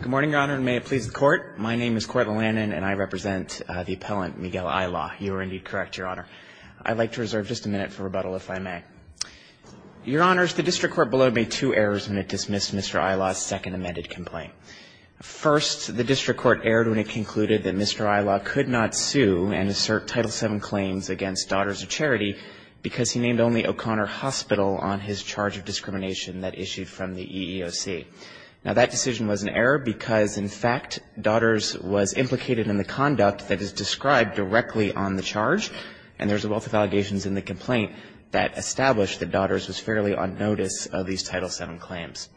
Good morning, Your Honor, and may it please the Court. My name is Court Lillanen, and I represent the appellant, Miguel Ilaw. You are indeed correct, Your Honor. I'd like to reserve just a minute for rebuttal, if I may. Your Honors, the District Court below made two errors when it dismissed Mr. Ilaw's second amended complaint. First, the District Court erred when it concluded that Mr. Ilaw could not sue and assert Title VII claims against Daughters of Charity because he named only O'Connor Hospital on his charge of discrimination that issued from the EEOC. Now, that decision was an error because, in fact, Daughters was implicated in the conduct that is described directly on the charge, and there's a wealth of allegations in the complaint that establish that Daughters was fairly on notice of these Title VII claims.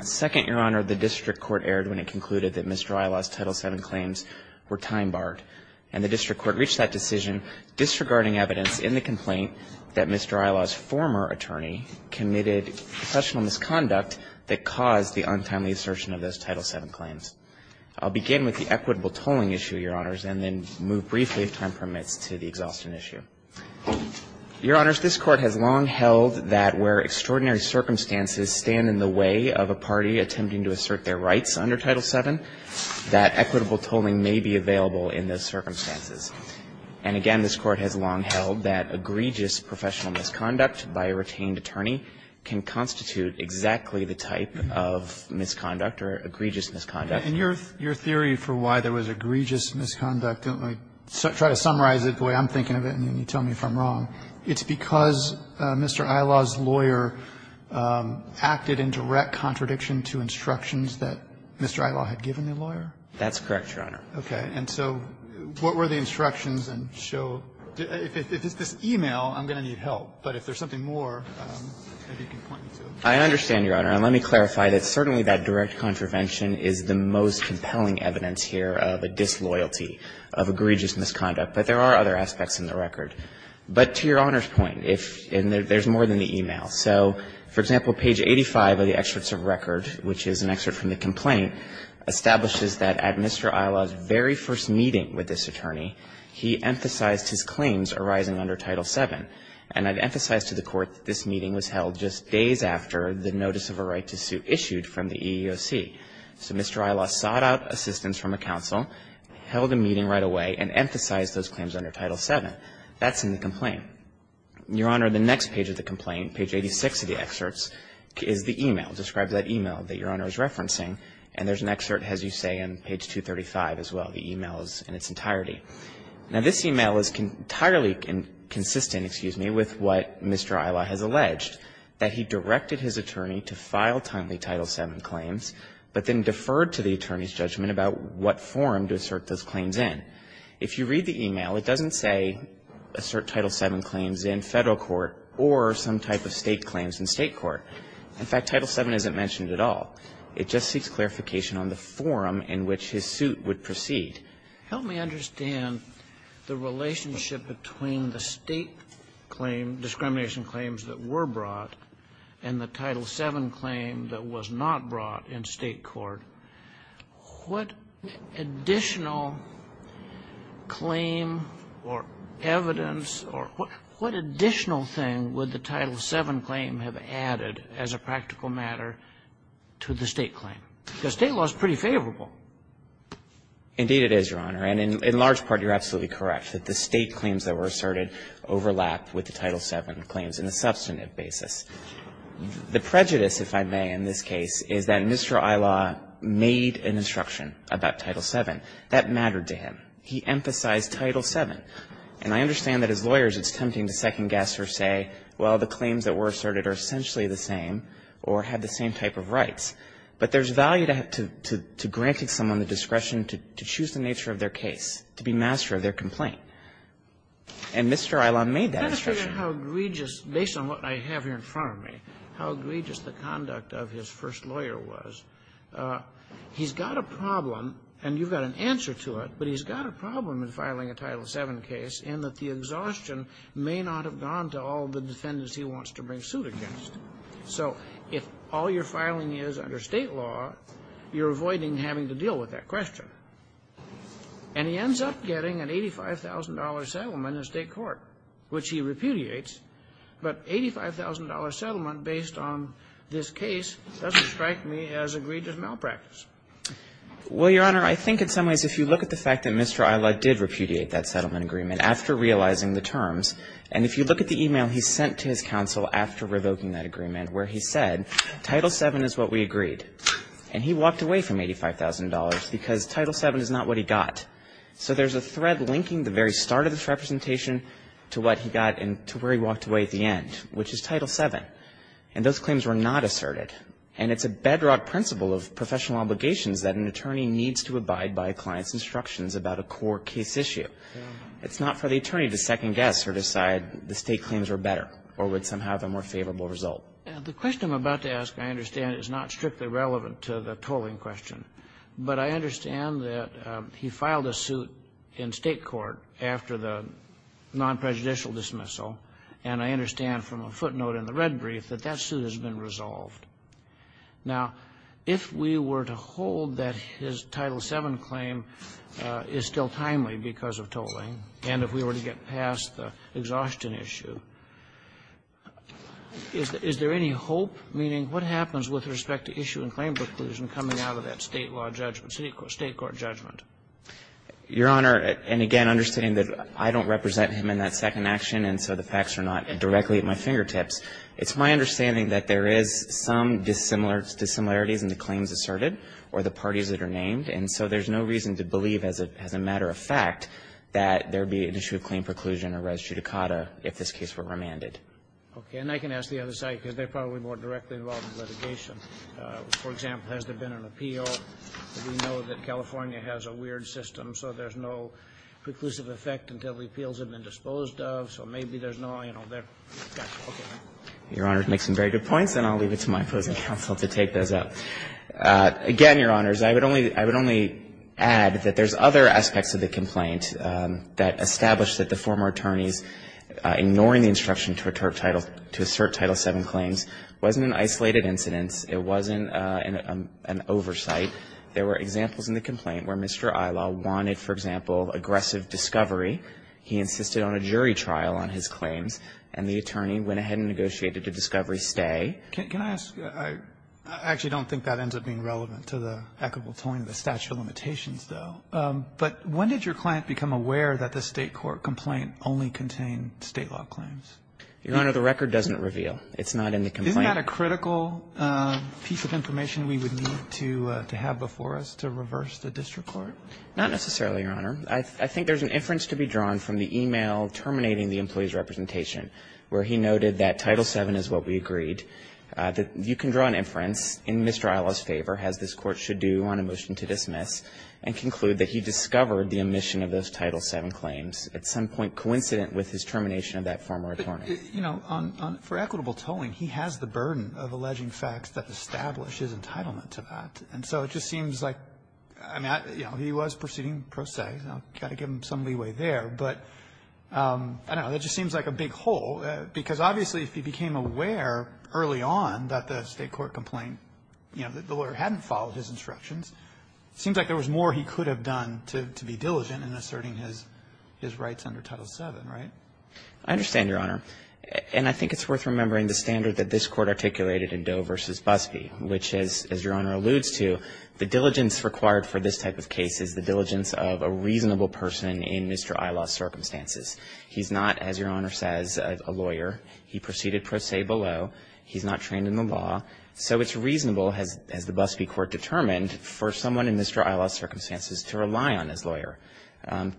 Second, Your Honor, the District Court erred when it concluded that Mr. Ilaw's Title VII claims were time-barred, and the District Court reached that decision disregarding the evidence in the complaint that Mr. Ilaw's former attorney committed professional misconduct that caused the untimely assertion of those Title VII claims. I'll begin with the equitable tolling issue, Your Honors, and then move briefly, if time permits, to the exhaustion issue. Your Honors, this Court has long held that where extraordinary circumstances stand in the way of a party attempting to assert their rights under Title VII, that equitable tolling may be available in those circumstances. And, again, this Court has long held that egregious professional misconduct by a retained attorney can constitute exactly the type of misconduct or egregious misconduct. And your theory for why there was egregious misconduct, and I'll try to summarize it the way I'm thinking of it, and then you tell me if I'm wrong, it's because Mr. Ilaw's lawyer acted in direct contradiction to instructions that Mr. Ilaw had given the lawyer? That's correct, Your Honor. Okay. And so what were the instructions and show – if it's this e-mail, I'm going to need help, but if there's something more, maybe you can point me to it. I understand, Your Honor, and let me clarify that certainly that direct contravention is the most compelling evidence here of a disloyalty, of egregious misconduct. But there are other aspects in the record. But to Your Honor's point, if – and there's more than the e-mail. So, for example, page 85 of the excerpts of record, which is an excerpt from the complaint, establishes that at Mr. Ilaw's very first meeting with this attorney, he emphasized his claims arising under Title VII. And I've emphasized to the Court that this meeting was held just days after the notice of a right to sue issued from the EEOC. So Mr. Ilaw sought out assistance from a counsel, held a meeting right away, and emphasized those claims under Title VII. That's in the complaint. Your Honor, the next page of the complaint, page 86 of the excerpts, is the e-mail. It describes that e-mail that Your Honor is referencing. And there's an excerpt, as you say, on page 235 as well. The e-mail is in its entirety. Now, this e-mail is entirely consistent, excuse me, with what Mr. Ilaw has alleged, that he directed his attorney to file timely Title VII claims, but then deferred to the attorney's judgment about what form to assert those claims in. If you read the e-mail, it doesn't say, assert Title VII claims in Federal court or some type of State claims in State court. In fact, Title VII isn't mentioned at all. It just seeks clarification on the form in which his suit would proceed. Help me understand the relationship between the State claim, discrimination claims that were brought, and the Title VII claim that was not brought in State court. What additional claim or evidence or what additional thing would the Title VII claim have added as a practical matter to the State claim? Because State law is pretty favorable. Indeed, it is, Your Honor. And in large part, you're absolutely correct that the State claims that were asserted overlap with the Title VII claims in a substantive basis. The prejudice, if I may, in this case, is that Mr. Ilaw made an instruction about Title VII. That mattered to him. He emphasized Title VII. And I understand that as lawyers it's tempting to second-guess or say, well, the claims that were asserted are essentially the same or have the same type of rights. But there's value to granting someone the discretion to choose the nature of their case, to be master of their complaint. And Mr. Ilaw made that instruction. Kennedy, based on what I have here in front of me, how egregious the conduct of his first lawyer was, he's got a problem, and you've got an answer to it, but he's got a problem in filing a Title VII case in that the exhaustion may not have gone to all the defendants he wants to bring suit against. So if all your filing is under State law, you're avoiding having to deal with that question. And he ends up getting an $85,000 settlement in State court, which he repudiates, but $85,000 settlement based on this case doesn't strike me as egregious malpractice. Well, Your Honor, I think in some ways if you look at the fact that Mr. Ilaw did repudiate that settlement agreement after realizing the terms, and if you look at the e-mail he sent to his counsel after revoking that agreement where he said, Title VII is what we agreed, and he walked away from $85,000 because Title VII is not what he got. So there's a thread linking the very start of this representation to what he got and to where he walked away at the end, which is Title VII. And those claims were not asserted. And it's a bedrock principle of professional obligations that an attorney needs to abide by a client's instructions about a core case issue. It's not for the attorney to second-guess or decide the State claims are better or would somehow have a more favorable result. The question I'm about to ask, I understand, is not strictly relevant to the tolling question, but I understand that he filed a suit in State court after the non-prejudicial dismissal, and I understand from a footnote in the red brief that that suit has been resolved. Now, if we were to hold that his Title VII claim is still timely because of tolling, and if we were to get past the exhaustion issue, is there any hope, meaning what happens with respect to issue and claim preclusion coming out of that State law judgment, State court judgment? Your Honor, and again, understanding that I don't represent him in that second action, and so the facts are not directly at my fingertips, it's my understanding that there is some dissimilarities in the claims asserted or the parties that are named, and so there's no reason to believe, as a matter of fact, that there would be an issue of claim preclusion or res judicata if this case were remanded. Okay. And I can ask the other side, because they're probably more directly involved in litigation. For example, has there been an appeal? We know that California has a weird system, so there's no preclusive effect until the appeals have been disposed of, so maybe there's no, you know, that's okay. Your Honor makes some very good points, and I'll leave it to my opposing counsel to take those up. Again, Your Honors, I would only add that there's other aspects of the complaint that establish that the former attorneys ignoring the instruction to assert Title VII claims wasn't an isolated incidence, it wasn't an oversight. There were examples in the complaint where Mr. Ila wanted, for example, aggressive discovery. He insisted on a jury trial on his claims, and the attorney went ahead and negotiated a discovery stay. Can I ask? I actually don't think that ends up being relevant to the equitable tolling of the statute of limitations, though. But when did your client become aware that the State court complaint only contained State law claims? Your Honor, the record doesn't reveal. It's not in the complaint. Isn't that a critical piece of information we would need to have before us to reverse the district court? Not necessarily, Your Honor. I think there's an inference to be drawn from the e-mail terminating the employee's representation, where he noted that Title VII is what we agreed, that you can draw an inference in Mr. Ila's favor, as this Court should do on a motion to dismiss, and conclude that he discovered the omission of those Title VII claims at some point coincident with his termination of that former attorney. But, you know, for equitable tolling, he has the burden of alleging facts that establish his entitlement to that. And so it just seems like, I mean, you know, he was proceeding pro se. You've got to give him some leeway there. But, I don't know, it just seems like a big hole, because obviously, if he became aware early on that the State court complaint, you know, the lawyer hadn't followed his instructions, it seems like there was more he could have done to be diligent in asserting his rights under Title VII, right? I understand, Your Honor. And I think it's worth remembering the standard that this Court articulated in Doe v. Busbee, which is, as Your Honor alludes to, the diligence required for this type of case is the diligence of a reasonable person in Mr. Ila's circumstances. He's not, as Your Honor says, a lawyer. He proceeded pro se below. He's not trained in the law. So it's reasonable, as the Busbee Court determined, for someone in Mr. Ila's circumstances to rely on his lawyer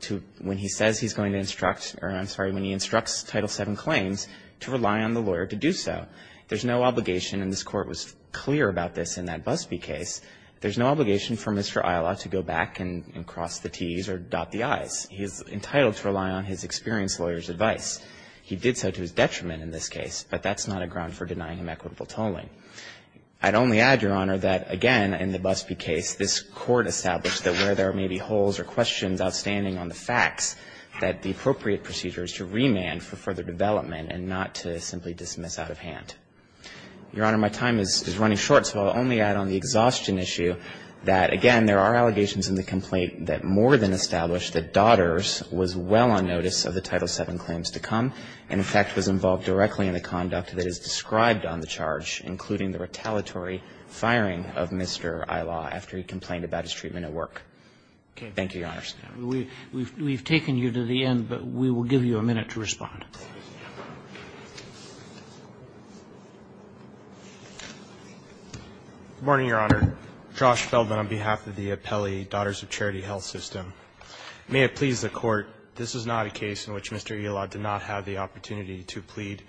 to, when he says he's going to instruct, or I'm sorry, when he instructs Title VII claims, to rely on the lawyer to do so. There's no obligation, and this Court was clear about this in that Busbee case. There's no obligation for Mr. Ila to go back and cross the t's or dot the i's. He is entitled to rely on his experienced lawyer's advice. He did so to his detriment in this case, but that's not a ground for denying him equitable tolling. I'd only add, Your Honor, that, again, in the Busbee case, this Court established that where there may be holes or questions outstanding on the facts, that the appropriate procedure is to remand for further development and not to simply dismiss out of hand. Your Honor, my time is running short, so I'll only add on the exhaustion issue that, again, there are allegations in the complaint that more than establish that Dodders was well on notice of the Title VII claims to come and, in fact, was involved directly in the conduct that is described on the charge, including the retaliatory firing of Mr. Ila after he complained about his treatment at work. Thank you, Your Honors. Roberts. We've taken you to the end, but we will give you a minute to respond. Good morning, Your Honor. Josh Feldman on behalf of the Apelli Daughters of Charity Health System. May it please the Court, this is not a case in which Mr. Ila did not have the opportunity to plead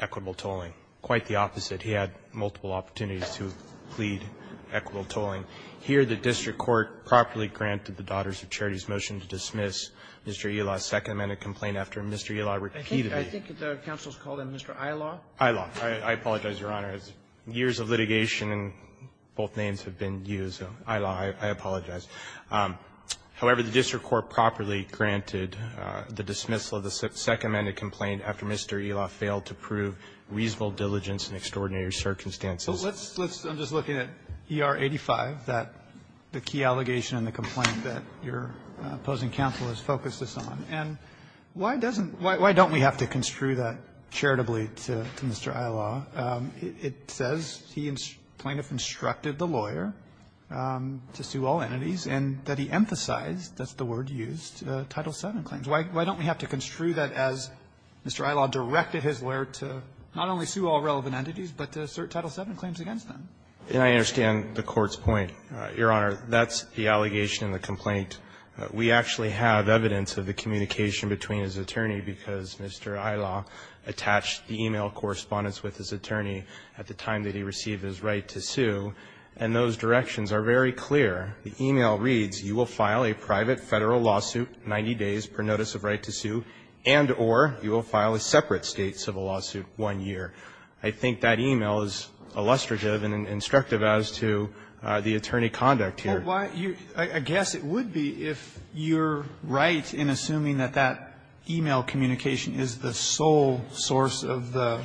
equitable tolling. Quite the opposite. He had multiple opportunities to plead equitable tolling. Here, the district court properly granted the Daughters of Charity's motion to dismiss Mr. Ila's Second Amendment complaint after Mr. Ila repeatedly ---- I think the counsel has called him Mr. Ila. Ila. I apologize, Your Honor. Years of litigation and both names have been used. Ila, I apologize. However, the district court properly granted the dismissal of the Second Amendment complaint after Mr. Ila failed to prove reasonable diligence in extraordinary circumstances. So let's ---- I'm just looking at ER 85, that the key allegation in the complaint that your opposing counsel has focused this on. And why doesn't ---- why don't we have to construe that charitably to Mr. Ila? It says plaintiff instructed the lawyer to sue all entities, and that he emphasized that's the word used, Title VII claims. Why don't we have to construe that as Mr. Ila directed his lawyer to not only sue all entities, but to sue Title VII claims against them? And I understand the Court's point. Your Honor, that's the allegation in the complaint. We actually have evidence of the communication between his attorney because Mr. Ila attached the e-mail correspondence with his attorney at the time that he received his right to sue, and those directions are very clear. The e-mail reads, you will file a private Federal lawsuit 90 days per notice of right to sue, and or you will file a separate State civil lawsuit one year. I think that e-mail is illustrative and instructive as to the attorney conduct here. Well, why you're ---- I guess it would be if you're right in assuming that that e-mail communication is the sole source of the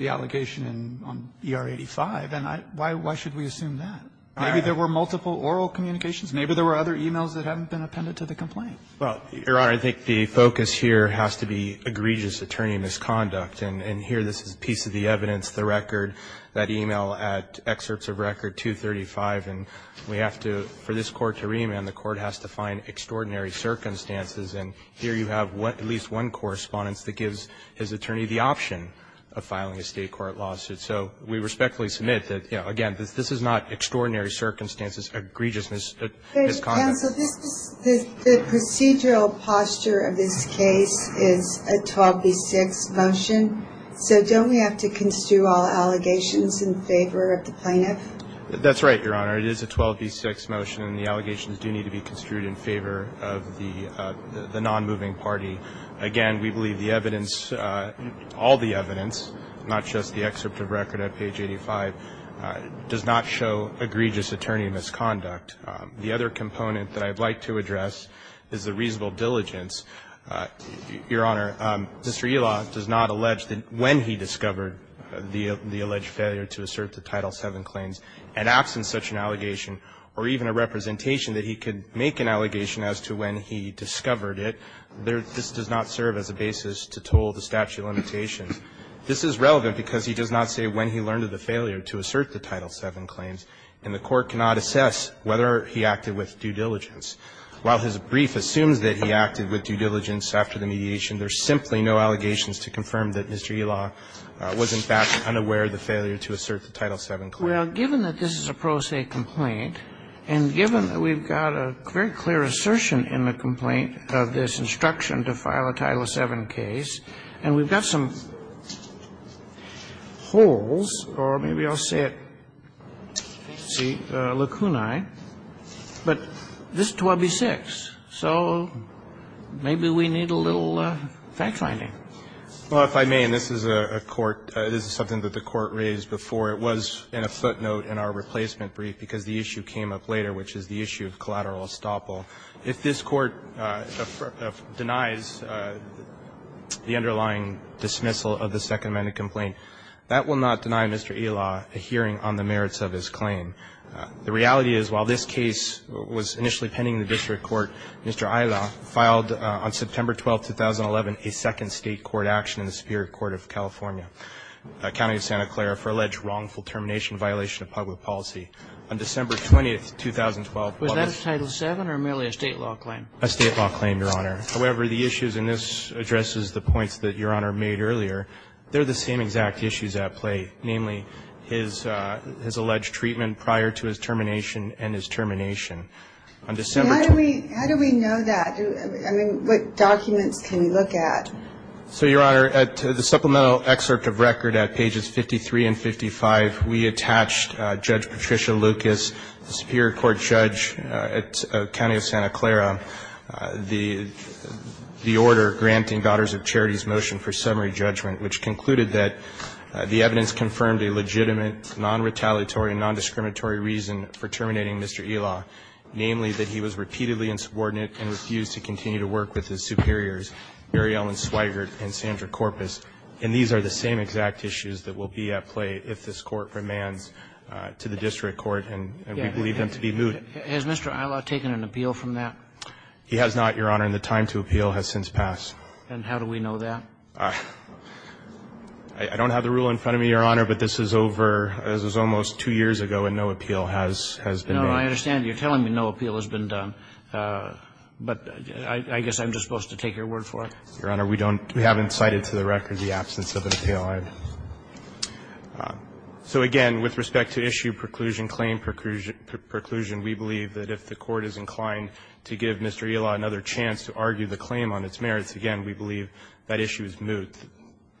allegation in ER 85, and I ---- why should we assume that? All right. Maybe there were multiple oral communications. Maybe there were other e-mails that haven't been appended to the complaint. Well, Your Honor, I think the focus here has to be egregious attorney misconduct. And here this is a piece of the evidence, the record, that e-mail at excerpts of record 235. And we have to ---- for this Court to remand, the Court has to find extraordinary circumstances. And here you have at least one correspondence that gives his attorney the option of filing a State court lawsuit. So we respectfully submit that, you know, again, this is not extraordinary circumstances, egregious misconduct. The procedural posture of this case is a 12B6 motion. So don't we have to construe all allegations in favor of the plaintiff? That's right, Your Honor. It is a 12B6 motion, and the allegations do need to be construed in favor of the nonmoving party. Again, we believe the evidence, all the evidence, not just the excerpt of record at page 85, does not show egregious attorney misconduct. The other component that I'd like to address is the reasonable diligence. Your Honor, Mr. Elaw does not allege that when he discovered the alleged failure to assert the Title VII claims, and absent such an allegation or even a representation that he could make an allegation as to when he discovered it, this does not serve as a basis to toll the statute of limitations. This is relevant because he does not say when he learned of the failure to assert the Title VII claims, and the Court cannot assess whether he acted with due diligence. While his brief assumes that he acted with due diligence after the mediation, there's simply no allegations to confirm that Mr. Elaw was in fact unaware of the failure to assert the Title VII claims. Well, given that this is a pro se complaint, and given that we've got a very clear assertion in the complaint of this instruction to file a Title VII case, and we've got some holes, or maybe I'll say it, see, lacunae, but this is 12b-6. So maybe we need a little fact-finding. Well, if I may, and this is a court, this is something that the Court raised before. It was in a footnote in our replacement brief, because the issue came up later, which is the issue of collateral estoppel. If this Court denies the underlying dismissal of the Second Amendment complaint, that will not deny Mr. Elaw a hearing on the merits of his claim. The reality is, while this case was initially pending in the district court, Mr. Elaw filed on September 12th, 2011, a second State court action in the Superior Court of California, County of Santa Clara, for alleged wrongful termination violation of public policy. On December 20th, 2012, what was the case? Was that a Title VII or merely a State law claim? A State law claim, Your Honor. However, the issues, and this addresses the points that Your Honor made earlier, they're the same exact issues at play, namely, his alleged treatment prior to his termination and his termination. On December 20th. How do we know that? I mean, what documents can we look at? So, Your Honor, at the supplemental excerpt of record at pages 53 and 55, we attached Judge Patricia Lucas, the Superior Court judge at County of Santa Clara, the order granting Daughters of Charity's motion for summary judgment, which concluded that the evidence confirmed a legitimate, non-retaliatory and non-discriminatory reason for terminating Mr. Elaw, namely, that he was repeatedly insubordinate and refused to continue to work with his superiors, Mary Ellen Swigert and Sandra Korpis, and these are the same exact issues that will be at play if this Court remands to the district court, and we believe them to be moot. Has Mr. Elaw taken an appeal from that? He has not, Your Honor, and the time to appeal has since passed. And how do we know that? I don't have the rule in front of me, Your Honor, but this is over, this was almost two years ago, and no appeal has been made. No, no, I understand. You're telling me no appeal has been done. But I guess I'm just supposed to take your word for it. Your Honor, we don't, we haven't cited to the record the absence of an appeal. So again, with respect to issue, preclusion, claim, preclusion, we believe that if the Court is inclined to give Mr. Elaw another chance to argue the claim on its merits, again, we believe that issue is moot.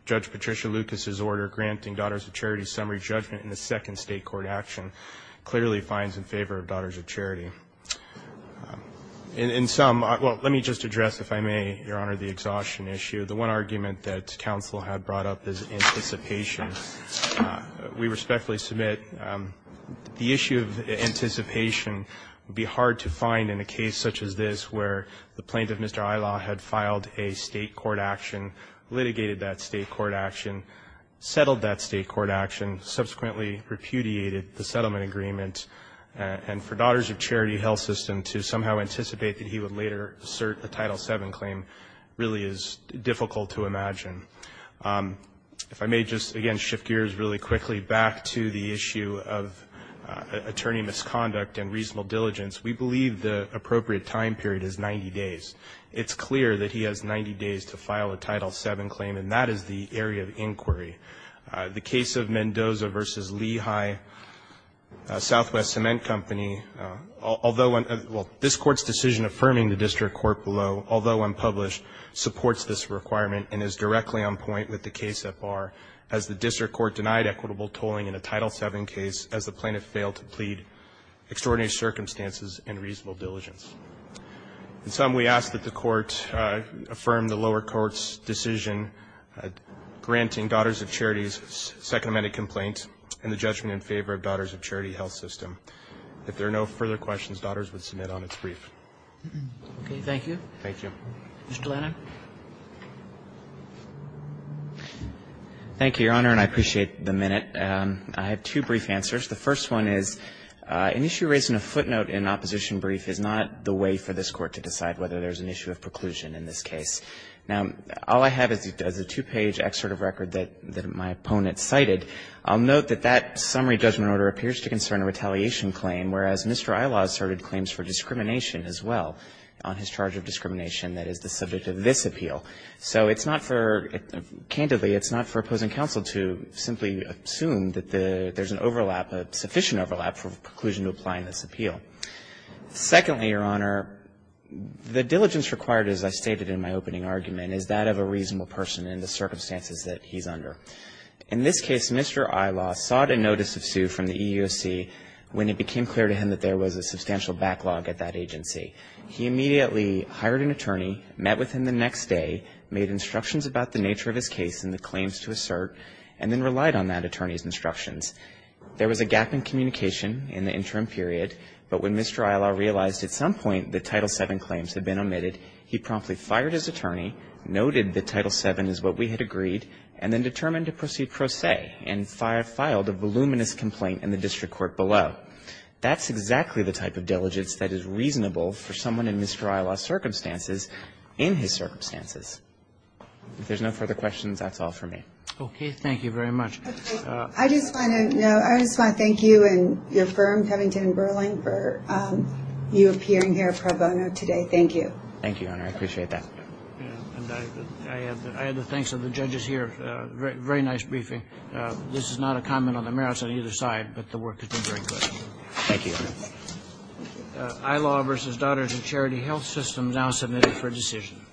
Judge Patricia Lucas's order granting Daughters of Charity's summary judgment in the second state court action clearly finds in favor of Daughters of Charity. In sum, well, let me just address, if I may, Your Honor, the exhaustion issue. The one argument that counsel had brought up is anticipation. We respectfully submit the issue of anticipation would be hard to find in a case such as this where the plaintiff, Mr. Elaw, had filed a state court action, litigated that state court action, settled that state court action, subsequently repudiated the settlement agreement. And for Daughters of Charity Health System to somehow anticipate that he would later assert a Title VII claim really is difficult to imagine. If I may just, again, shift gears really quickly back to the issue of attorney misconduct and reasonable diligence, we believe the appropriate time period is 90 days. It's clear that he has 90 days to file a Title VII claim, and that is the area of inquiry. The case of Mendoza v. Lehigh Southwest Cement Company, although one of the – well, this Court's decision affirming the district court below, although unpublished, supports this requirement and is directly on point with the case at bar as the district court denied equitable tolling in a Title VII case as the plaintiff failed to plead extraordinary circumstances and reasonable diligence. In sum, we ask that the Court affirm the lower court's decision granting Daughters of Charity's Second Amendment complaint and the judgment in favor of Daughters of Charity Health System. If there are no further questions, Daughters would submit on its brief. Roberts. Thank you. Thank you. Mr. Lanham. Thank you, Your Honor, and I appreciate the minute. I have two brief answers. The first one is an issue raising a footnote in an opposition brief is not the way for this Court to decide whether there is an issue of preclusion in this case. Now, all I have is a two-page excerpt of record that my opponent cited. I'll note that that summary judgment order appears to concern a retaliation claim, whereas Mr. Ilah asserted claims for discrimination as well on his charge of discrimination that is the subject of this appeal. So it's not for – candidly, it's not for opposing counsel to simply assume that there's an overlap, a sufficient overlap for preclusion to apply in this appeal. Secondly, Your Honor, the diligence required, as I stated in my opening argument, is that of a reasonable person in the circumstances that he's under. In this case, Mr. Ilah sought a notice of sue from the EEOC when it became clear to him that there was a substantial backlog at that agency. He immediately hired an attorney, met with him the next day, made instructions about the nature of his case and the claims to assert, and then relied on that attorney's instructions. There was a gap in communication in the interim period, but when Mr. Ilah realized at some point that Title VII claims had been omitted, he promptly fired his attorney, noted that Title VII is what we had agreed, and then determined to proceed pro se and filed a voluminous complaint in the district court below. That's exactly the type of diligence that is reasonable for someone in Mr. Ilah's circumstances in his circumstances. If there's no further questions, that's all for me. Roberts. Okay, thank you very much. I just want to thank you and your firm, Covington & Burling, for you appearing here pro bono today. Thank you. Thank you, Your Honor. I appreciate that. I have the thanks of the judges here. Very nice briefing. This is not a comment on the merits on either side, but the work has been very good. Thank you, Your Honor. Ilah v. Daughters of Charity Health Systems, now submitted for decision.